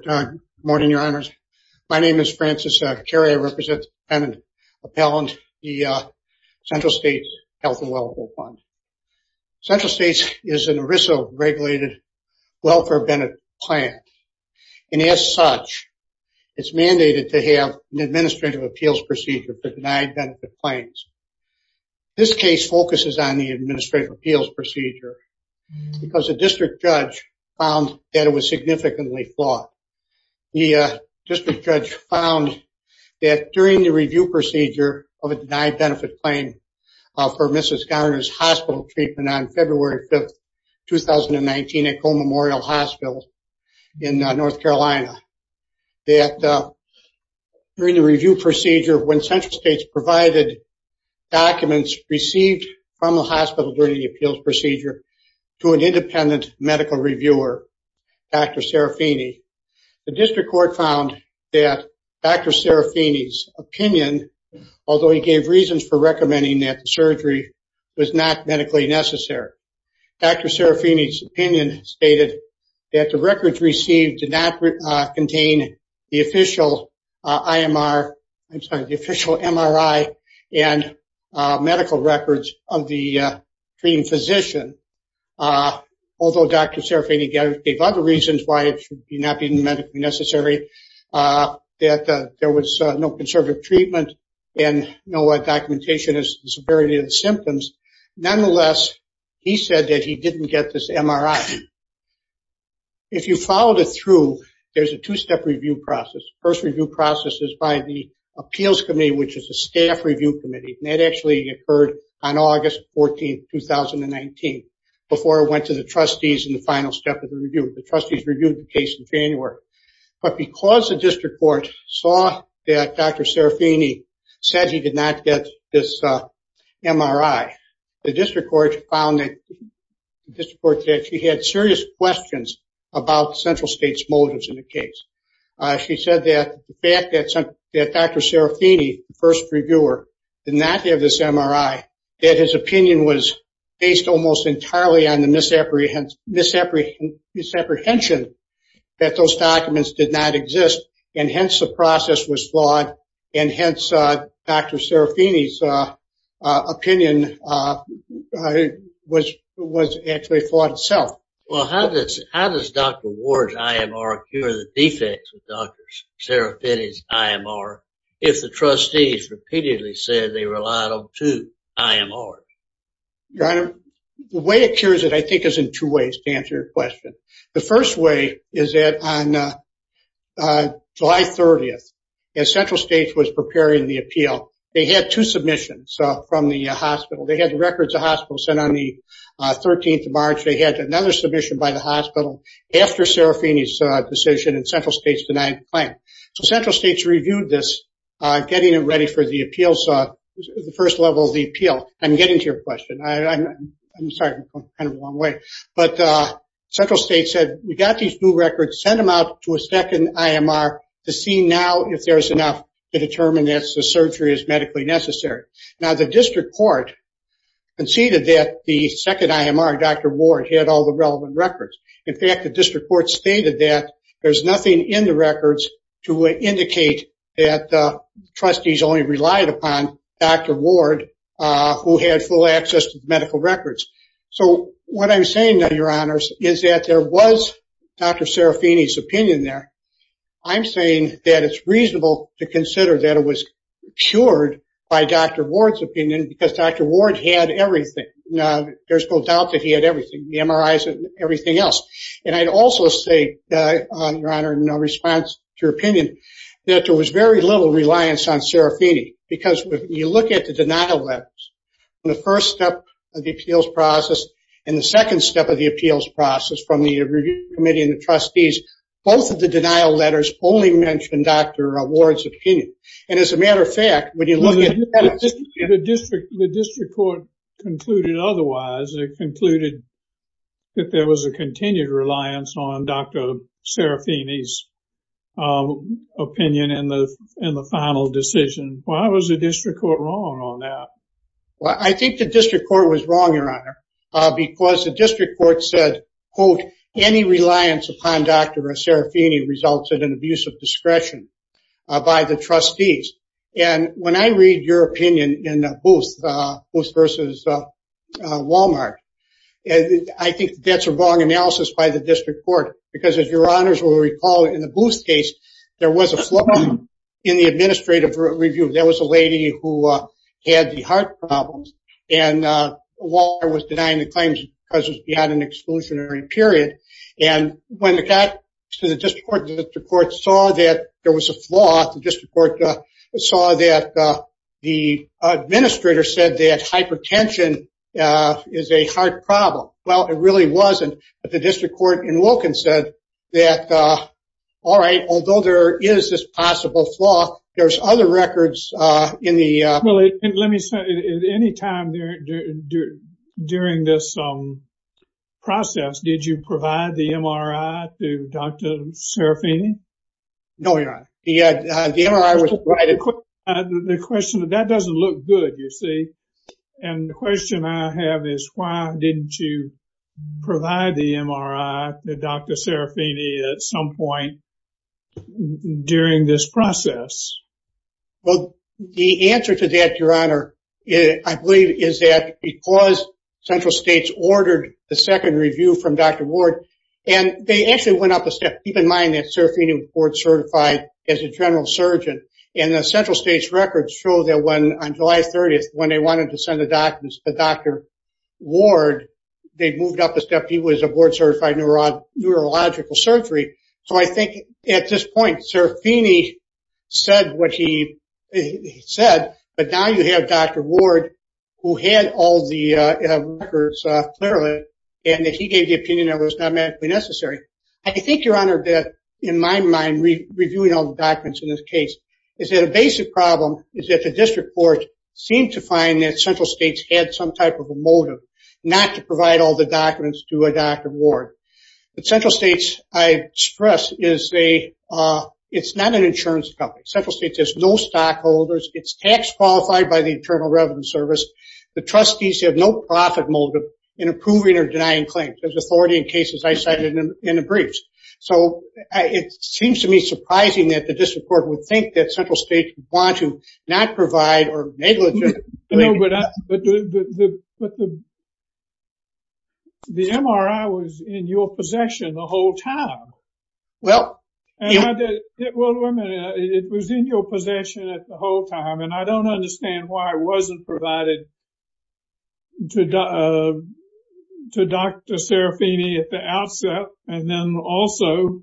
Good morning, your honors. My name is Francis Carey. I represent the Central States Health and Welfare Fund. Central States is an ERISA regulated welfare benefit plan. And as such, it's mandated to have an administrative appeals procedure to deny benefit plans. This case focuses on the administrative appeals procedure because a district judge found that it was significantly flawed. The district judge found that during the review procedure of a denied benefit claim for Mrs. Garner's hospital treatment on February 5th, 2019 at Coe Memorial Hospital in North Carolina, that during the review procedure when Central States provided documents received from the hospital during the appeals procedure to an independent medical reviewer, Dr. Serafini, the district court found that Dr. Serafini's opinion, although he gave reasons for recommending that the surgery was not medically necessary, Dr. Serafini's opinion stated that the records received did not contain the official MRI and medical records of the treating physician. Although Dr. Serafini gave other reasons why it should not be medically necessary, that there was no conservative treatment and no documentation as to the severity of the symptoms. Nonetheless, he said that he didn't get this MRI. If you followed it through, there's a two-step review process. The first review process is by the appeals committee, which is a staff review committee. And that actually occurred on August 14th, 2019, before it went to the trustees in the final step of the review. The trustees reviewed the case in January. But because the district court saw that Dr. Serafini said he did not get this MRI, the district court found that she had serious questions about Central States' motives in the case. She said that the fact that Dr. Serafini, the first reviewer, did not get this MRI, that his opinion was based almost entirely on the misapprehension that those documents did not exist. And hence, the process was flawed. And hence, Dr. Serafini's opinion was actually flawed itself. Well, how does Dr. Ward's IMR cure the defects of Dr. Serafini's IMR if the trustees repeatedly said they relied on two IMRs? Your Honor, the way it cures it, I think, is in two ways, to answer your question. The first way is that on July 30th, as Central States was preparing the appeal, they had two submissions from the hospital. They had the records of the hospital sent on the 13th of March. They had another submission by the hospital after Serafini's decision, and Central States denied the claim. So Central States reviewed this, getting it ready for the appeals, the first level of the appeal. I'm getting to your question. I'm sorry. I'm going kind of the wrong way. But Central States said, we got these new records. Send them out to a second IMR to see now if there's enough to determine if the surgery is medically necessary. Now, the district court conceded that the second IMR, Dr. Ward, had all the relevant records. In fact, the district court stated that there's nothing in the records to indicate that the trustees only relied upon Dr. Ward, who had full access to medical records. So what I'm saying, Your Honors, is that there was Dr. Serafini's opinion there. I'm saying that it's reasonable to consider that it was cured by Dr. Ward's opinion because Dr. Ward had everything. Now, there's no doubt that he had everything, the MRIs and everything else. And I'd also say, Your Honor, in response to your opinion, that there was very little reliance on Serafini because when you look at the denial levels, the first step of the appeals process and the second step of the appeals process from the review committee and the trustees, both of the denial letters only mentioned Dr. Ward's opinion. And as a matter of fact, when you look at the district court concluded otherwise, it concluded that there was a continued reliance on Dr. Serafini's opinion in the final decision. Why was the district court wrong on that? Well, I think the district court was wrong, Your Honor, because the district court said, quote, any reliance upon Dr. Serafini resulted in abuse of discretion by the trustees. And when I read your opinion in Booth versus Walmart, I think that's a wrong analysis by the district court, because as Your Honors will recall, in the Booth case, there was a flaw in the administrative review. There was a lady who had the heart problems and Walmart was denying the claims because it was beyond an exclusionary period. And when it got to the district court, the district court saw that there was a flaw. The district court saw that the administrator said that hypertension is a heart problem. Well, it really wasn't. But the district court in Wilkins said that, all right, although there is this possible flaw, there's other records in the. Well, let me say at any time during this process, did you provide the MRI to Dr. Serafini? No, Your Honor. The question is that doesn't look good, you see. And the question I have is why didn't you provide the MRI to Dr. Serafini at some point during this process? Well, the answer to that, Your Honor, I believe is that because central states ordered the second review from Dr. Ward, and they actually went up a step. Keep in mind that Serafini was board certified as a general surgeon. And the central states records show that when, on July 30th, when they wanted to send the documents to Dr. Ward, they moved up a step. He was a board certified neurological surgery. So I think at this point Serafini said what he said, but now you have Dr. Ward who had all the records clearly, and that he gave the opinion that it was not medically necessary. I think, Your Honor, that in my mind, reviewing all the documents in this case, is that a basic problem is that the district court seemed to find that central states had some type of a motive not to provide all the documents to Dr. Ward. But central states, I stress, it's not an insurance company. Central states has no stockholders. It's tax qualified by the Internal Revenue Service. The trustees have no profit motive in approving or denying claims. There's authority in cases I cited in the briefs. So it seems to me surprising that the district court would think that central states want to not provide or negligibly. But the MRI was in your possession the whole time. Well, yeah. Well, wait a minute. It was in your possession the whole time. And I don't understand why it wasn't provided to Dr. Serafini at the outset, and then also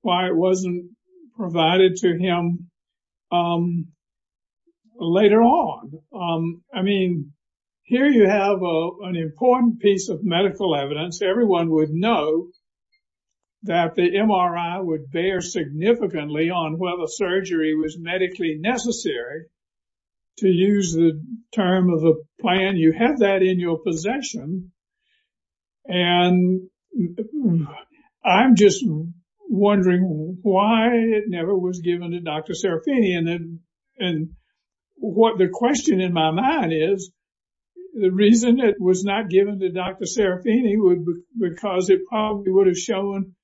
why it wasn't provided to him later on. I mean, here you have an important piece of medical evidence. Everyone would know that the MRI would bear significantly on whether surgery was medically necessary. To use the term of the plan, you have that in your possession. And I'm just wondering why it never was given to Dr. Serafini. And what the question in my mind is, the reason it was not given to Dr. Serafini was because it probably would have shown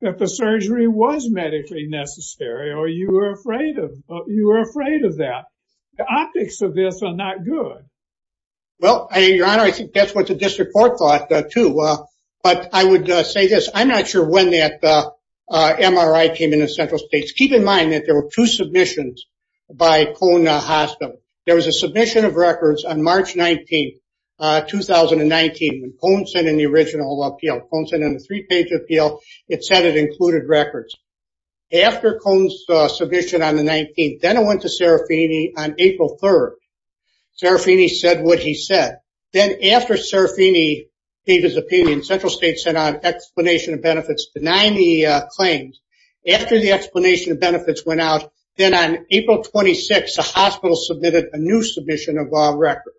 that the surgery was medically necessary, or you were afraid of that. The optics of this are not good. Well, Your Honor, I think that's what the district court thought, too. But I would say this. I'm not sure when that MRI came into central states. Just keep in mind that there were two submissions by Cone Hospital. There was a submission of records on March 19th, 2019, and Cone sent in the original appeal. Cone sent in a three-page appeal. It said it included records. After Cone's submission on the 19th, then it went to Serafini on April 3rd. Serafini said what he said. Then after Serafini gave his opinion, central states sent out an explanation of benefits denying the claims. After the explanation of benefits went out, then on April 26th, the hospital submitted a new submission of records.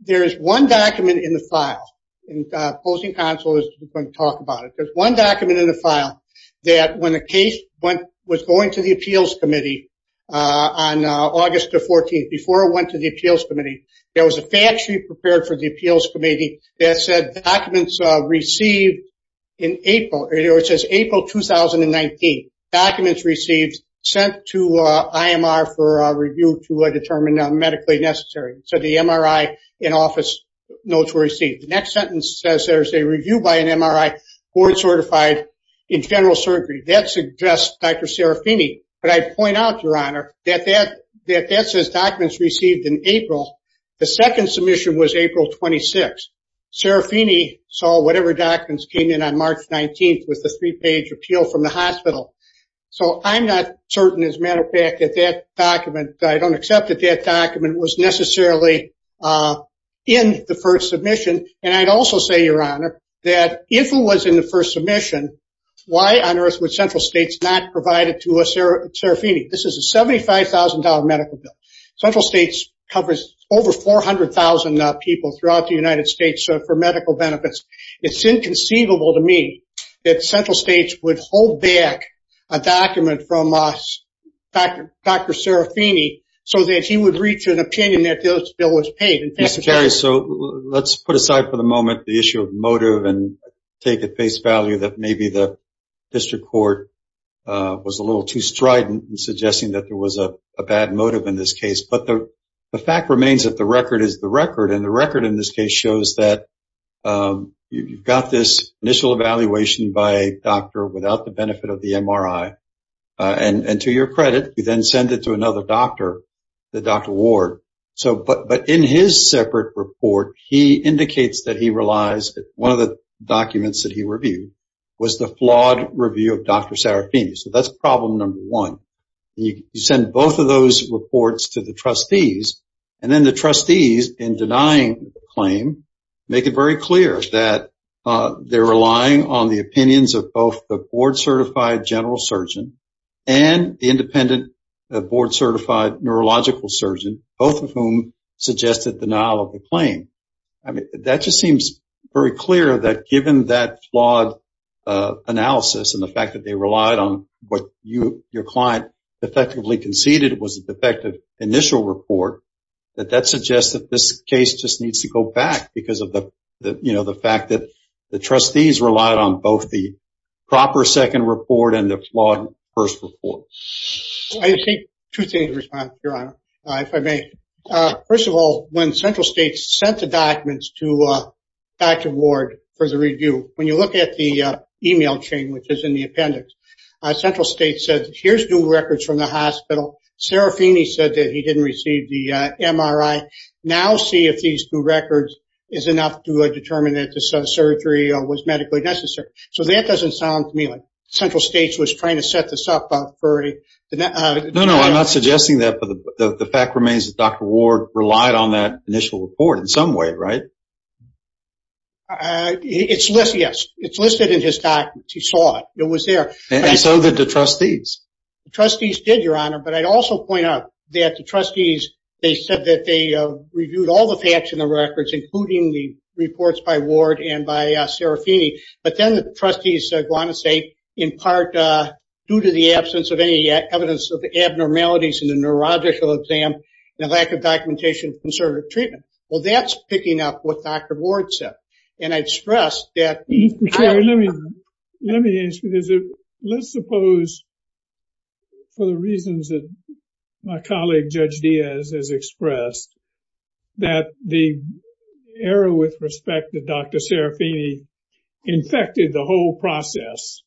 There is one document in the file, and opposing counsel is going to talk about it. There's one document in the file that when the case was going to the appeals committee on August the 14th, before it went to the appeals committee, there was a fact sheet prepared for the appeals committee that said documents received in April. It says April 2019, documents received, sent to IMR for review to determine medically necessary. So the MRI and office notes were received. The next sentence says there's a review by an MRI board certified in general surgery. That suggests Dr. Serafini. But I'd point out, Your Honor, that that says documents received in April. The second submission was April 26th. Serafini saw whatever documents came in on March 19th with the three-page appeal from the hospital. So I'm not certain, as a matter of fact, that that document, I don't accept that that document was necessarily in the first submission. And I'd also say, Your Honor, that if it was in the first submission, why on earth would Central States not provide it to Serafini? This is a $75,000 medical bill. Central States covers over 400,000 people throughout the United States for medical benefits. It's inconceivable to me that Central States would hold back a document from Dr. Serafini so that he would reach an opinion that this bill was paid. Mr. Terry, so let's put aside for the moment the issue of motive and take at face value that maybe the district court was a little too strident in suggesting that there was a bad motive in this case. But the fact remains that the record is the record. And the record in this case shows that you've got this initial evaluation by a doctor without the benefit of the MRI. And to your credit, you then send it to another doctor, the Dr. Ward. But in his separate report, he indicates that he realized that one of the documents that he reviewed was the flawed review of Dr. Serafini. So that's problem number one. You send both of those reports to the trustees. And then the trustees, in denying the claim, make it very clear that they're relying on the opinions of both the board-certified general surgeon and the independent board-certified neurological surgeon, both of whom suggested denial of the claim. I mean, that just seems very clear that given that flawed analysis and the fact that they relied on what your client effectively conceded was a defective initial report, that that suggests that this case just needs to go back because of the fact that the trustees relied on both the proper second report and the flawed first report. I think two things, Your Honor, if I may. First of all, when Central States sent the documents to Dr. Ward for the review, when you look at the e-mail chain, which is in the appendix, Central States said, here's new records from the hospital. Serafini said that he didn't receive the MRI. Now see if these new records is enough to determine that this surgery was medically necessary. So that doesn't sound to me like Central States was trying to set this up. No, no, I'm not suggesting that. But the fact remains that Dr. Ward relied on that initial report in some way, right? It's listed, yes. It's listed in his documents. He saw it. It was there. And so did the trustees. The trustees did, Your Honor. But I'd also point out that the trustees, they said that they reviewed all the facts in the records, including the reports by Ward and by Serafini. But then the trustees go on to say, in part, due to the absence of any evidence of abnormalities in the neurological exam and lack of documentation concerning treatment. Well, that's picking up what Dr. Ward said. And I'd stress that. Let me answer this. Let's suppose, for the reasons that my colleague Judge Diaz has expressed, that the error with respect to Dr. Serafini infected the whole process,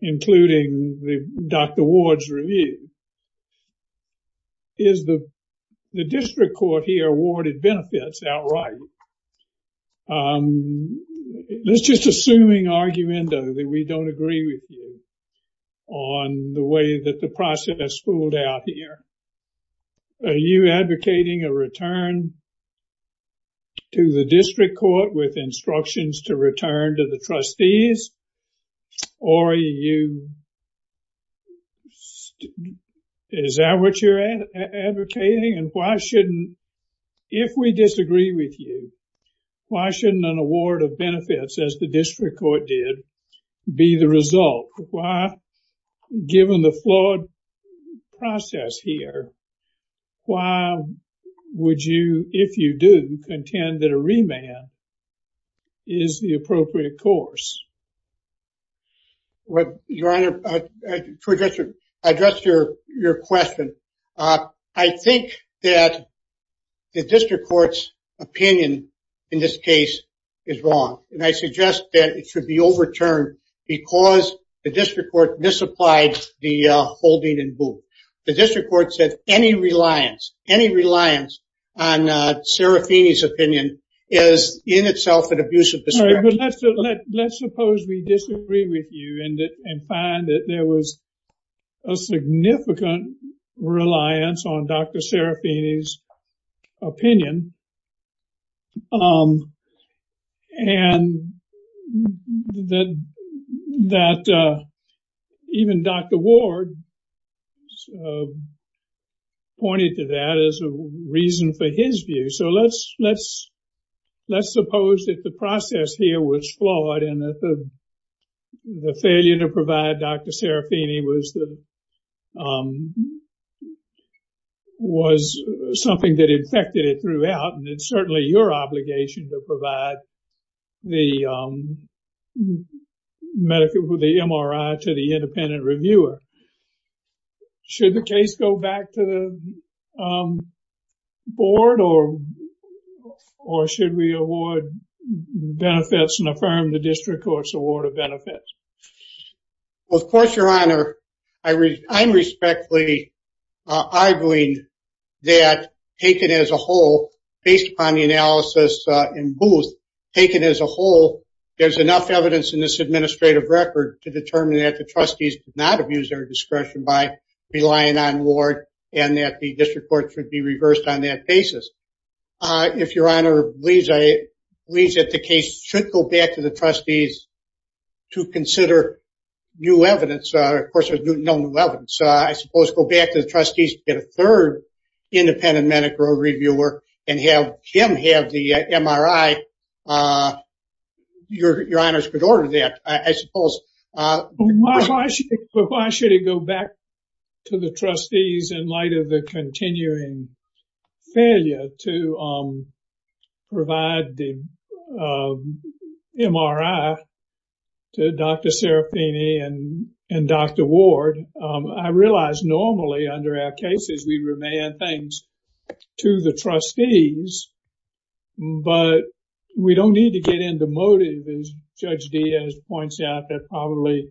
including Dr. Ward's review. Is the district court here awarded benefits outright? Let's just assuming argument that we don't agree with you on the way that the process pulled out here. Are you advocating a return to the district court with instructions to return to the trustees? Or are you, is that what you're advocating? And why shouldn't, if we disagree with you, why shouldn't an award of benefits, as the district court did, be the result? Why, given the flawed process here, why would you, if you do, contend that a remand is the appropriate course? Your Honor, to address your question, I think that the district court's opinion in this case is wrong. And I suggest that it should be overturned because the district court misapplied the holding and boot. The district court said any reliance, any reliance on Serafini's opinion is in itself an abuse of discretion. Let's suppose we disagree with you and find that there was a significant reliance on Dr. Serafini's opinion. And that even Dr. Ward pointed to that as a reason for his view. So let's suppose that the process here was flawed and that the failure to provide Dr. Serafini was something that infected it throughout. And it's certainly your obligation to provide the medical, the MRI to the independent reviewer. Should the case go back to the board or should we award benefits and affirm the district court's award of benefits? Well, of course, Your Honor, I'm respectfully arguing that, taken as a whole, based upon the analysis in Booth, taken as a whole, there's enough evidence in this administrative record to determine that the trustees did not abuse their discretion by relying on Ward and that the district court should be reversed on that basis. If Your Honor believes that the case should go back to the trustees to consider new evidence. Of course, there's no new evidence. So I suppose go back to the trustees, get a third independent medical reviewer and have him have the MRI. Your Honor's could order that, I suppose. Why should it go back to the trustees in light of the continuing failure to provide the MRI to Dr. Serafini and Dr. Ward? I realize normally under our cases, we remand things to the trustees. But we don't need to get into motive, as Judge Diaz points out, that probably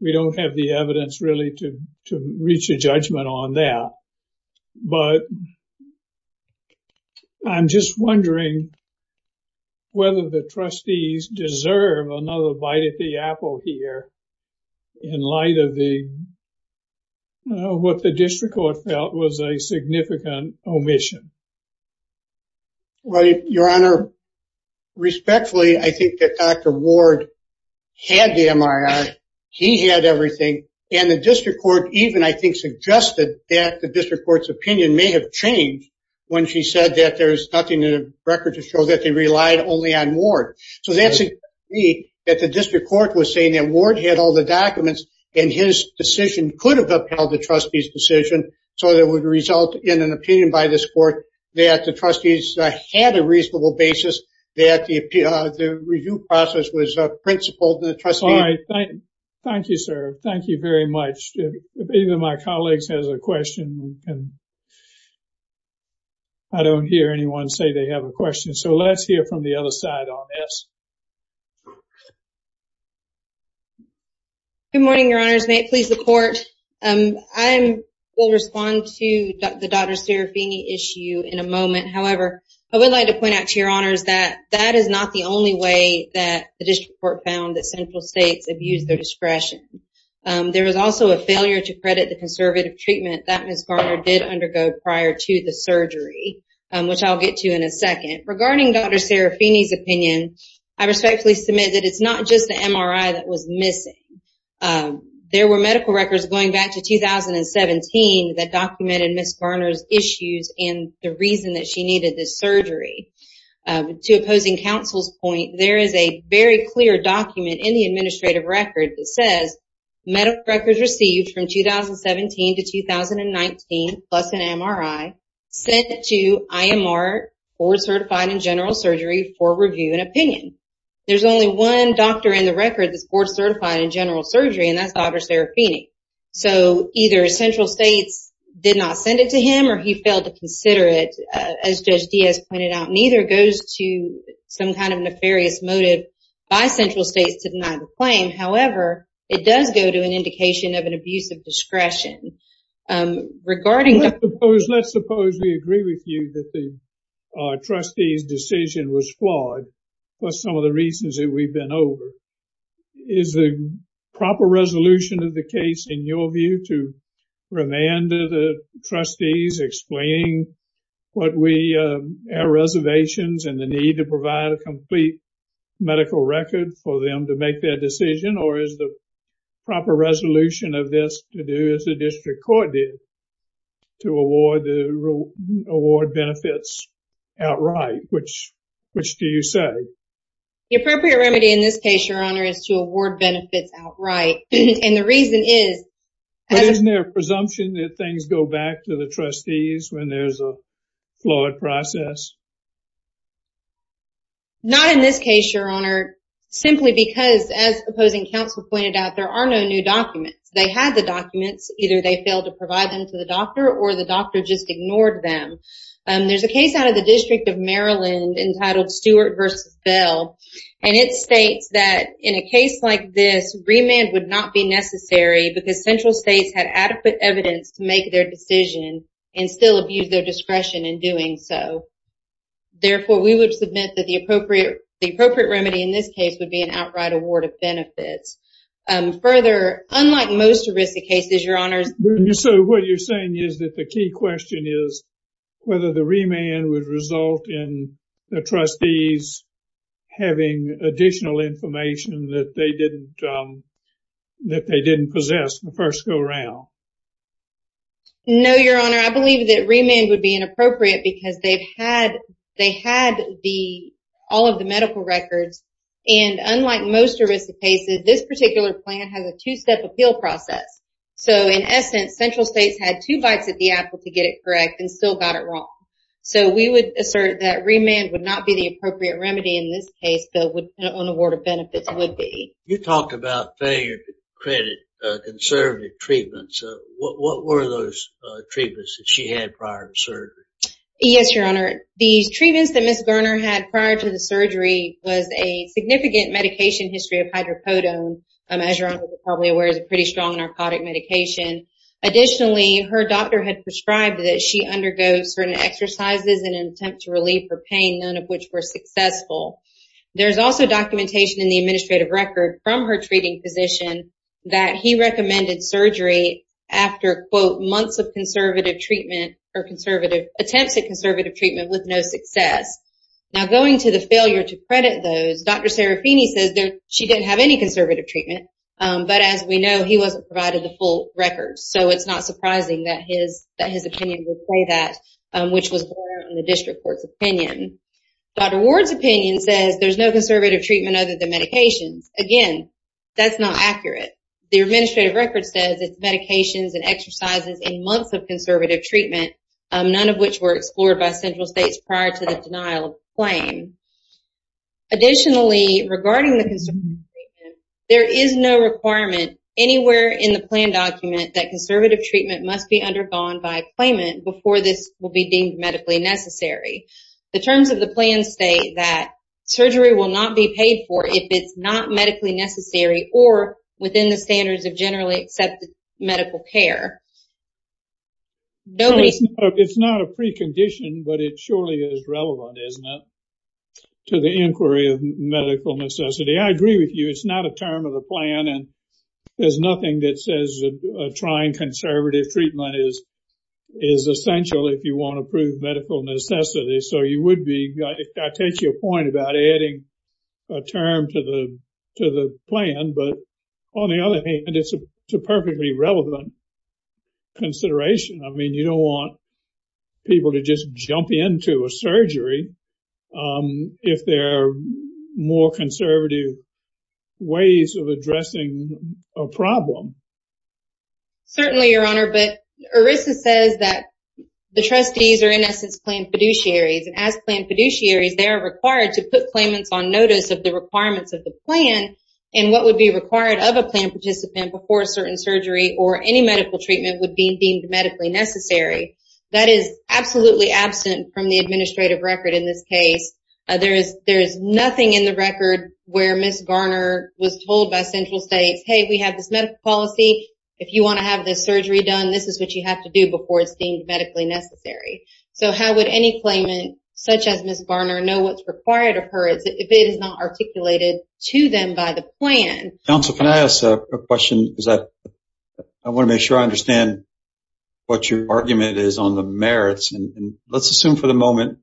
we don't have the evidence really to reach a judgment on that. But I'm just wondering whether the trustees deserve another bite at the apple here in light of what the district court felt was a significant omission. Well, Your Honor, respectfully, I think that Dr. Ward had the MRI. He had everything. And the district court even, I think, suggested that the district court's opinion may have changed when she said that there's nothing in the record to show that they relied only on Ward. So that suggests to me that the district court was saying that Ward had all the documents, and his decision could have upheld the trustees' decision. So it would result in an opinion by this court that the trustees had a reasonable basis, that the review process was principled. All right. Thank you, sir. Thank you very much. If any of my colleagues has a question, I don't hear anyone say they have a question. So let's hear from the other side on this. Good morning, Your Honors. May it please the court? I would like to point out to Your Honors that that is not the only way that the district court found that central states abused their discretion. There was also a failure to credit the conservative treatment that Ms. Garner did undergo prior to the surgery, which I'll get to in a second. Regarding Dr. Serafini's opinion, I respectfully submit that it's not just the MRI that was missing. There were medical records going back to 2017 that documented Ms. Garner's issues and the reason that she needed this surgery. To opposing counsel's point, there is a very clear document in the administrative record that says medical records received from 2017 to 2019, plus an MRI, sent to IMR, Board Certified in General Surgery, for review and opinion. There's only one doctor in the record that's Board Certified in General Surgery, and that's Dr. Serafini. So either central states did not send it to him or he failed to consider it. As Judge Diaz pointed out, neither goes to some kind of nefarious motive by central states to deny the claim. However, it does go to an indication of an abuse of discretion. Let's suppose we agree with you that the trustee's decision was flawed for some of the reasons that we've been over. Is the proper resolution of the case, in your view, to remand the trustees explaining our reservations and the need to provide a complete medical record for them to make their decision? Or is the proper resolution of this to do as the district court did, to award the award benefits outright? Which do you say? The appropriate remedy in this case, Your Honor, is to award benefits outright. And the reason is... But isn't there a presumption that things go back to the trustees when there's a flawed process? Not in this case, Your Honor. Simply because, as opposing counsel pointed out, there are no new documents. They had the documents. Either they failed to provide them to the doctor or the doctor just ignored them. There's a case out of the District of Maryland entitled Stewart v. Bell. And it states that in a case like this, remand would not be necessary because central states had adequate evidence to make their decision and still abuse their discretion in doing so. Therefore, we would submit that the appropriate remedy in this case would be an outright award of benefits. Further, unlike most ERISA cases, Your Honor... So, what you're saying is that the key question is whether the remand would result in the trustees having additional information that they didn't possess in the first go-round. No, Your Honor. I believe that remand would be inappropriate because they had all of the medical records. And unlike most ERISA cases, this particular plan has a two-step appeal process. So, in essence, central states had two bites at the apple to get it correct and still got it wrong. So, we would assert that remand would not be the appropriate remedy in this case, though an award of benefits would be. You talked about failure to credit conservative treatments. What were those treatments that she had prior to surgery? Yes, Your Honor. The treatments that Ms. Garner had prior to the surgery was a significant medication history of hydrocodone. As Your Honor is probably aware, it's a pretty strong narcotic medication. Additionally, her doctor had prescribed that she undergo certain exercises in an attempt to relieve her pain, none of which were successful. There's also documentation in the administrative record from her treating physician that he recommended surgery after, quote, months of conservative treatment or conservative attempts at conservative treatment with no success. Now, going to the failure to credit those, Dr. Serafini says she didn't have any conservative treatment. But as we know, he wasn't provided the full records. So, it's not surprising that his opinion would say that, which was in the district court's opinion. Dr. Ward's opinion says there's no conservative treatment other than medications. Again, that's not accurate. The administrative record says it's medications and exercises in months of conservative treatment, none of which were explored by central states prior to the denial of the claim. Additionally, regarding the conservative treatment, there is no requirement anywhere in the plan document that conservative treatment must be undergone by a claimant before this will be deemed medically necessary. The terms of the plan state that surgery will not be paid for if it's not medically necessary or within the standards of generally accepted medical care. It's not a precondition, but it surely is relevant, isn't it, to the inquiry of medical necessity. I agree with you. It's not a term of the plan, and there's nothing that says trying conservative treatment is essential if you want to prove medical necessity. So, I take your point about adding a term to the plan. But on the other hand, it's a perfectly relevant consideration. I mean, you don't want people to just jump into a surgery. If there are more conservative ways of addressing a problem. Certainly, Your Honor. But ERISA says that the trustees are, in essence, plan fiduciaries. And as plan fiduciaries, they are required to put claimants on notice of the requirements of the plan and what would be required of a plan participant before a certain surgery or any medical treatment would be deemed medically necessary. That is absolutely absent from the administrative record in this case. There is nothing in the record where Ms. Garner was told by central states, hey, we have this medical policy. If you want to have this surgery done, this is what you have to do before it's deemed medically necessary. So, how would any claimant, such as Ms. Garner, know what's required of her if it is not articulated to them by the plan? Counsel, can I ask a question? I want to make sure I understand what your argument is on the merits. Let's assume for the moment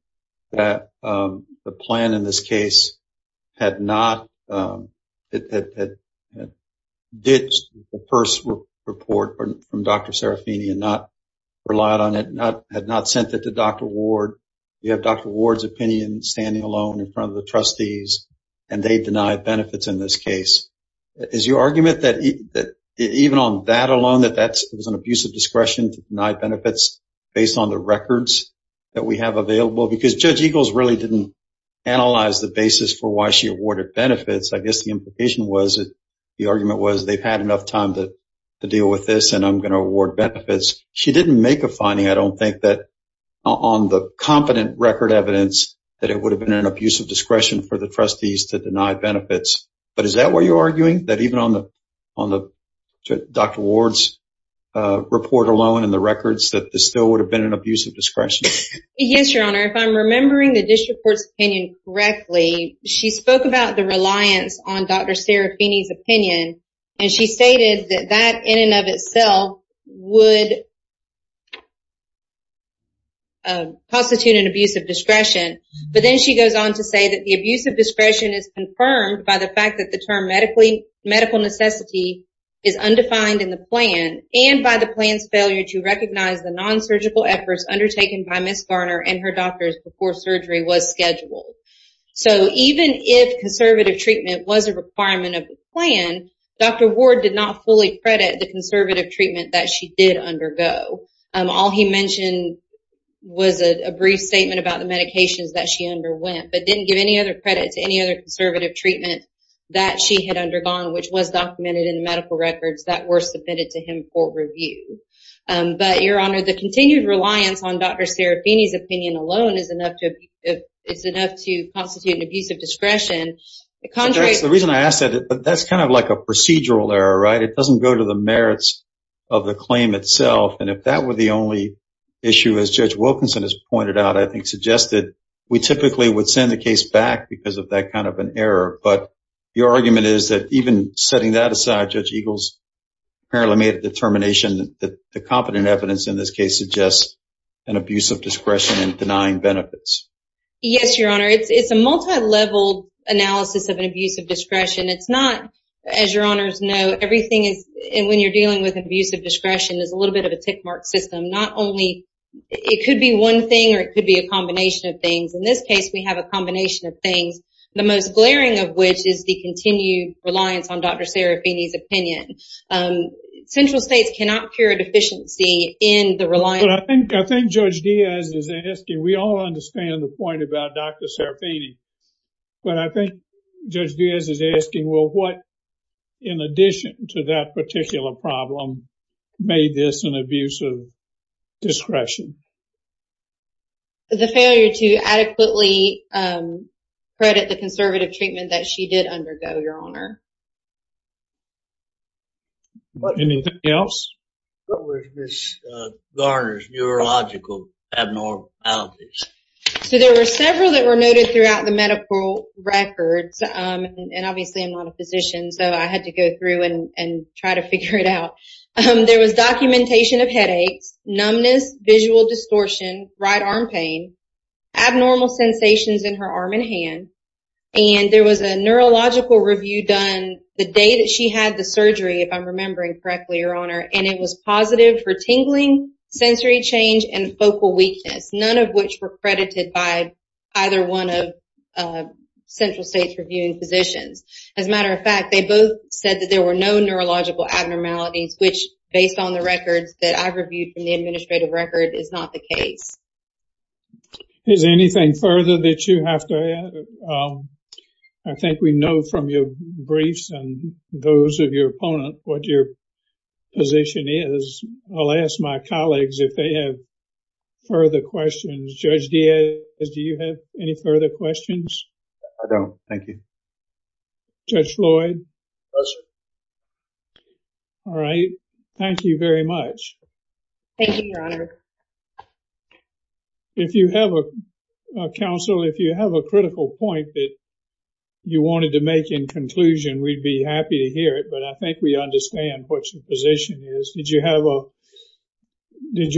that the plan in this case had not ditched the first report from Dr. Serafini and not relied on it, had not sent it to Dr. Ward. You have Dr. Ward's opinion standing alone in front of the trustees and they denied benefits in this case. Is your argument that even on that alone that that was an abuse of discretion to deny benefits based on the records that we have available? Because Judge Eagles really didn't analyze the basis for why she awarded benefits. I guess the implication was that the argument was they've had enough time to deal with this and I'm going to award benefits. She didn't make a finding, I don't think, on the competent record evidence that it would have been an abuse of discretion for the trustees to deny benefits. But is that what you're arguing? That even on Dr. Ward's report alone and the records that this still would have been an abuse of discretion? Yes, Your Honor. If I'm remembering the district court's opinion correctly, she spoke about the reliance on Dr. Serafini's opinion and she stated that that in and of itself would constitute an abuse of discretion. But then she goes on to say that the abuse of discretion is confirmed by the fact that the term medical necessity is undefined in the plan and by the plan's failure to recognize the non-surgical efforts undertaken by Ms. Garner and her doctors before surgery was scheduled. So even if conservative treatment was a requirement of the plan, Dr. Ward did not fully credit the conservative treatment that she did undergo. All he mentioned was a brief statement about the medications that she underwent but didn't give any other credit to any other conservative treatment that she had undergone which was documented in the medical records that were submitted to him for review. But, Your Honor, the continued reliance on Dr. Serafini's opinion alone is enough to constitute an abuse of discretion. The reason I ask that, that's kind of like a procedural error, right? It doesn't go to the merits of the claim itself. And if that were the only issue, as Judge Wilkinson has pointed out, I think suggested, we typically would send the case back because of that kind of an error. But your argument is that even setting that aside, Judge Eagles apparently made a determination that the competent evidence in this case suggests an abuse of discretion and denying benefits. Yes, Your Honor. It's a multi-leveled analysis of an abuse of discretion. It's not, as Your Honors know, everything is, when you're dealing with an abuse of discretion, there's a little bit of a tick mark system. Not only, it could be one thing or it could be a combination of things. In this case, we have a combination of things, the most glaring of which is the continued reliance on Dr. Serafini's opinion. Central states cannot cure a deficiency in the reliance. But I think Judge Diaz is asking, we all understand the point about Dr. Serafini. But I think Judge Diaz is asking, well, what, in addition to that particular problem, made this an abuse of discretion? The failure to adequately credit the conservative treatment that she did undergo, Your Honor. Anything else? What was Ms. Garner's neurological abnormalities? So there were several that were noted throughout the medical records. And obviously, I'm not a physician, so I had to go through and try to figure it out. There was documentation of headaches, numbness, visual distortion, right arm pain, abnormal sensations in her arm and hand. And there was a neurological review done the day that she had the surgery, if I'm remembering correctly, Your Honor. And it was positive for tingling, sensory change, and focal weakness, none of which were credited by either one of Central State's reviewing physicians. As a matter of fact, they both said that there were no neurological abnormalities, which, based on the records that I've reviewed from the administrative record, is not the case. Is there anything further that you have to add? I think we know from your briefs and those of your opponent what your position is. I'll ask my colleagues if they have further questions. Judge Diaz, do you have any further questions? I don't. Thank you. Judge Floyd? No, sir. All right. Thank you very much. Thank you, Your Honor. If you have a, counsel, if you have a critical point that you wanted to make in conclusion, we'd be happy to hear it. But I think we understand what your position is. Did you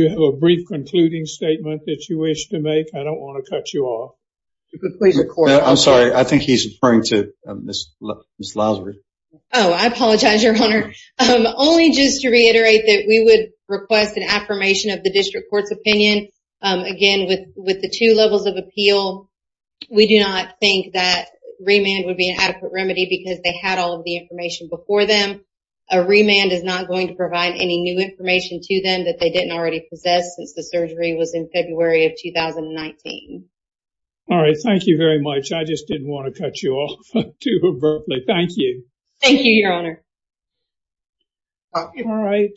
have a brief concluding statement that you wish to make? I don't want to cut you off. I'm sorry. I think he's referring to Ms. Lousery. Oh, I apologize, Your Honor. Only just to reiterate that we would request an affirmation of the district court's opinion. Again, with the two levels of appeal, we do not think that remand would be an adequate remedy because they had all of the information before them. A remand is not going to provide any new information to them that they didn't already possess since the surgery was in February of 2019. All right. Thank you very much. I just didn't want to cut you off too abruptly. Thank you. Thank you, Your Honor. All right.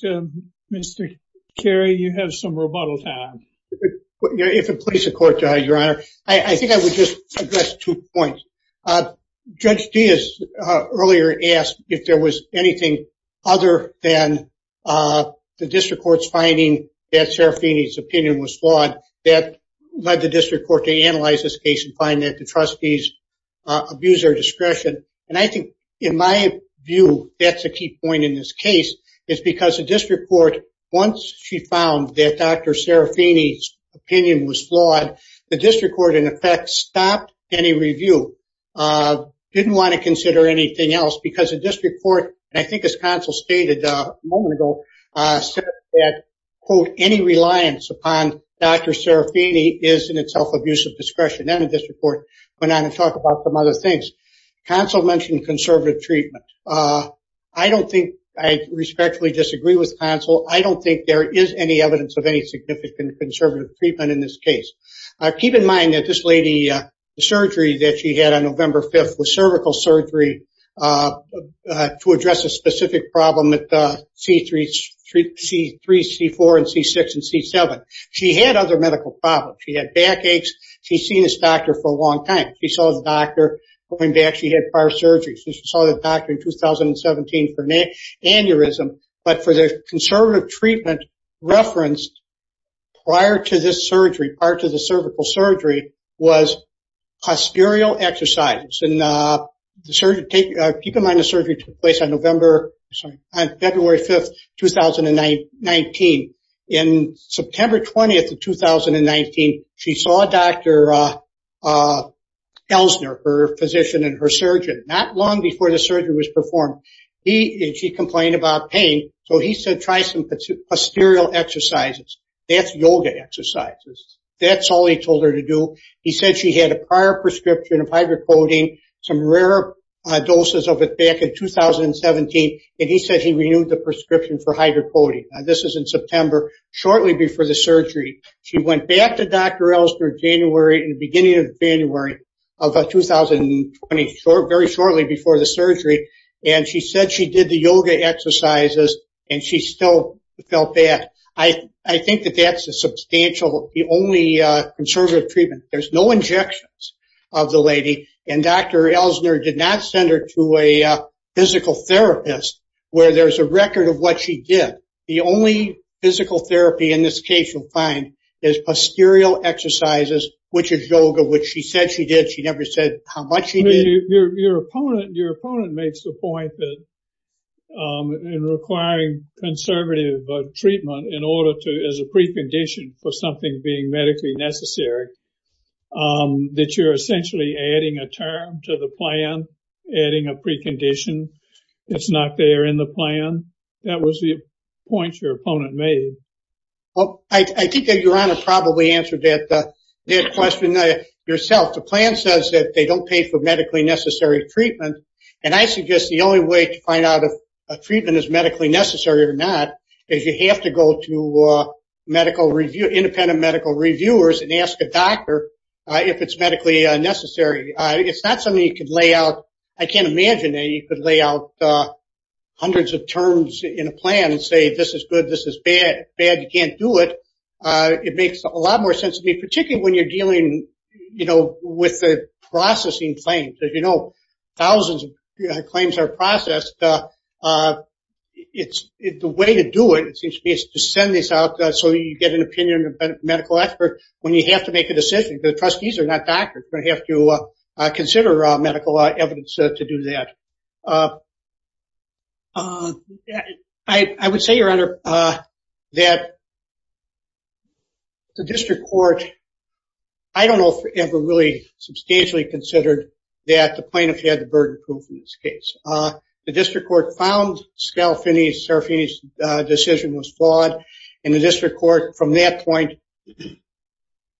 Mr. Carey, you have some rebuttal time. If it pleases the court, Your Honor, I think I would just address two points. Judge Diaz earlier asked if there was anything other than the district court's finding that Serafini's opinion was flawed. That led the district court to analyze this case and find that the trustees abused their discretion. And I think in my view, that's a key point in this case. It's because the district court, once she found that Dr. Serafini's opinion was flawed, the district court, in effect, stopped any review. Didn't want to consider anything else because the district court, I think as counsel stated a moment ago, said that, quote, any reliance upon Dr. Serafini is in itself abusive discretion. And the district court went on to talk about some other things. Counsel mentioned conservative treatment. I don't think I respectfully disagree with counsel. I don't think there is any evidence of any significant conservative treatment in this case. Keep in mind that this lady, the surgery that she had on November 5th was cervical surgery to address a specific problem at C3, C4, and C6 and C7. She had other medical problems. She had back aches. She's seen this doctor for a long time. She saw the doctor. Going back, she had par surgery. She saw the doctor in 2017 for aneurysm. But for the conservative treatment referenced prior to this surgery, prior to the cervical surgery, was posterior exercises. And keep in mind the surgery took place on February 5th, 2019. In September 20th of 2019, she saw Dr. Elsner, her physician and her surgeon, not long before the surgery was performed. She complained about pain. So he said try some posterior exercises. That's yoga exercises. That's all he told her to do. He said she had a prior prescription of hydrocodone, some rare doses of it back in 2017, and he said he renewed the prescription for hydrocodone. This is in September, shortly before the surgery. She went back to Dr. Elsner in January, the beginning of January of 2020, very shortly before the surgery. And she said she did the yoga exercises and she still felt bad. I think that that's a substantial, the only conservative treatment. There's no injections of the lady. And Dr. Elsner did not send her to a physical therapist where there's a record of what she did. The only physical therapy in this case you'll find is posterior exercises, which is yoga, which she said she did. She never said how much she did. Your opponent makes the point that in requiring conservative treatment in order to, as a precondition for something being medically necessary, that you're essentially adding a term to the plan, adding a precondition. It's not there in the plan. That was the point your opponent made. I think that Your Honor probably answered that question yourself. The plan says that they don't pay for medically necessary treatment. And I suggest the only way to find out if a treatment is medically necessary or not is you have to go to medical review, independent medical reviewers, and ask a doctor if it's medically necessary. It's not something you can lay out. I can't imagine that you could lay out hundreds of terms in a plan and say, this is good, this is bad. If it's bad, you can't do it. It makes a lot more sense to me, particularly when you're dealing with the processing claims. As you know, thousands of claims are processed. The way to do it, it seems to me, is to send this out so you get an opinion of a medical expert when you have to make a decision. The trustees are not doctors. They have to consider medical evidence to do that. I would say, Your Honor, that the district court, I don't know if it ever really substantially considered that the plaintiff had the burden proof in this case. The district court found Scalfini's decision was flawed, and the district court from that point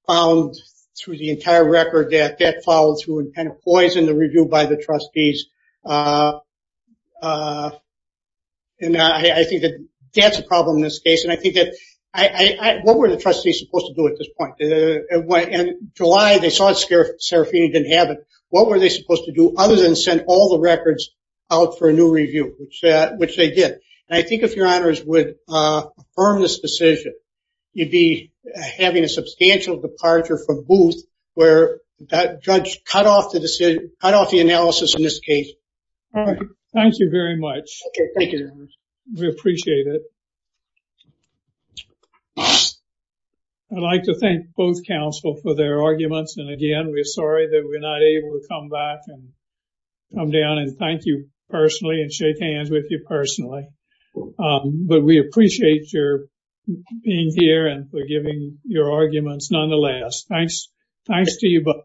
found through the entire record that that followed through and kind of poisoned the review by the trustees. And I think that that's a problem in this case. And I think that what were the trustees supposed to do at this point? In July, they saw Scalfini didn't have it. What were they supposed to do other than send all the records out for a new review, which they did? And I think if Your Honors would affirm this decision, you'd be having a substantial departure from Booth, where that judge cut off the analysis in this case. All right. Thank you very much. Thank you. We appreciate it. I'd like to thank both counsel for their arguments. And again, we're sorry that we're not able to come back and come down and thank you personally and shake hands with you personally. But we appreciate your being here and for giving your arguments nonetheless. Thanks. Thanks to you both.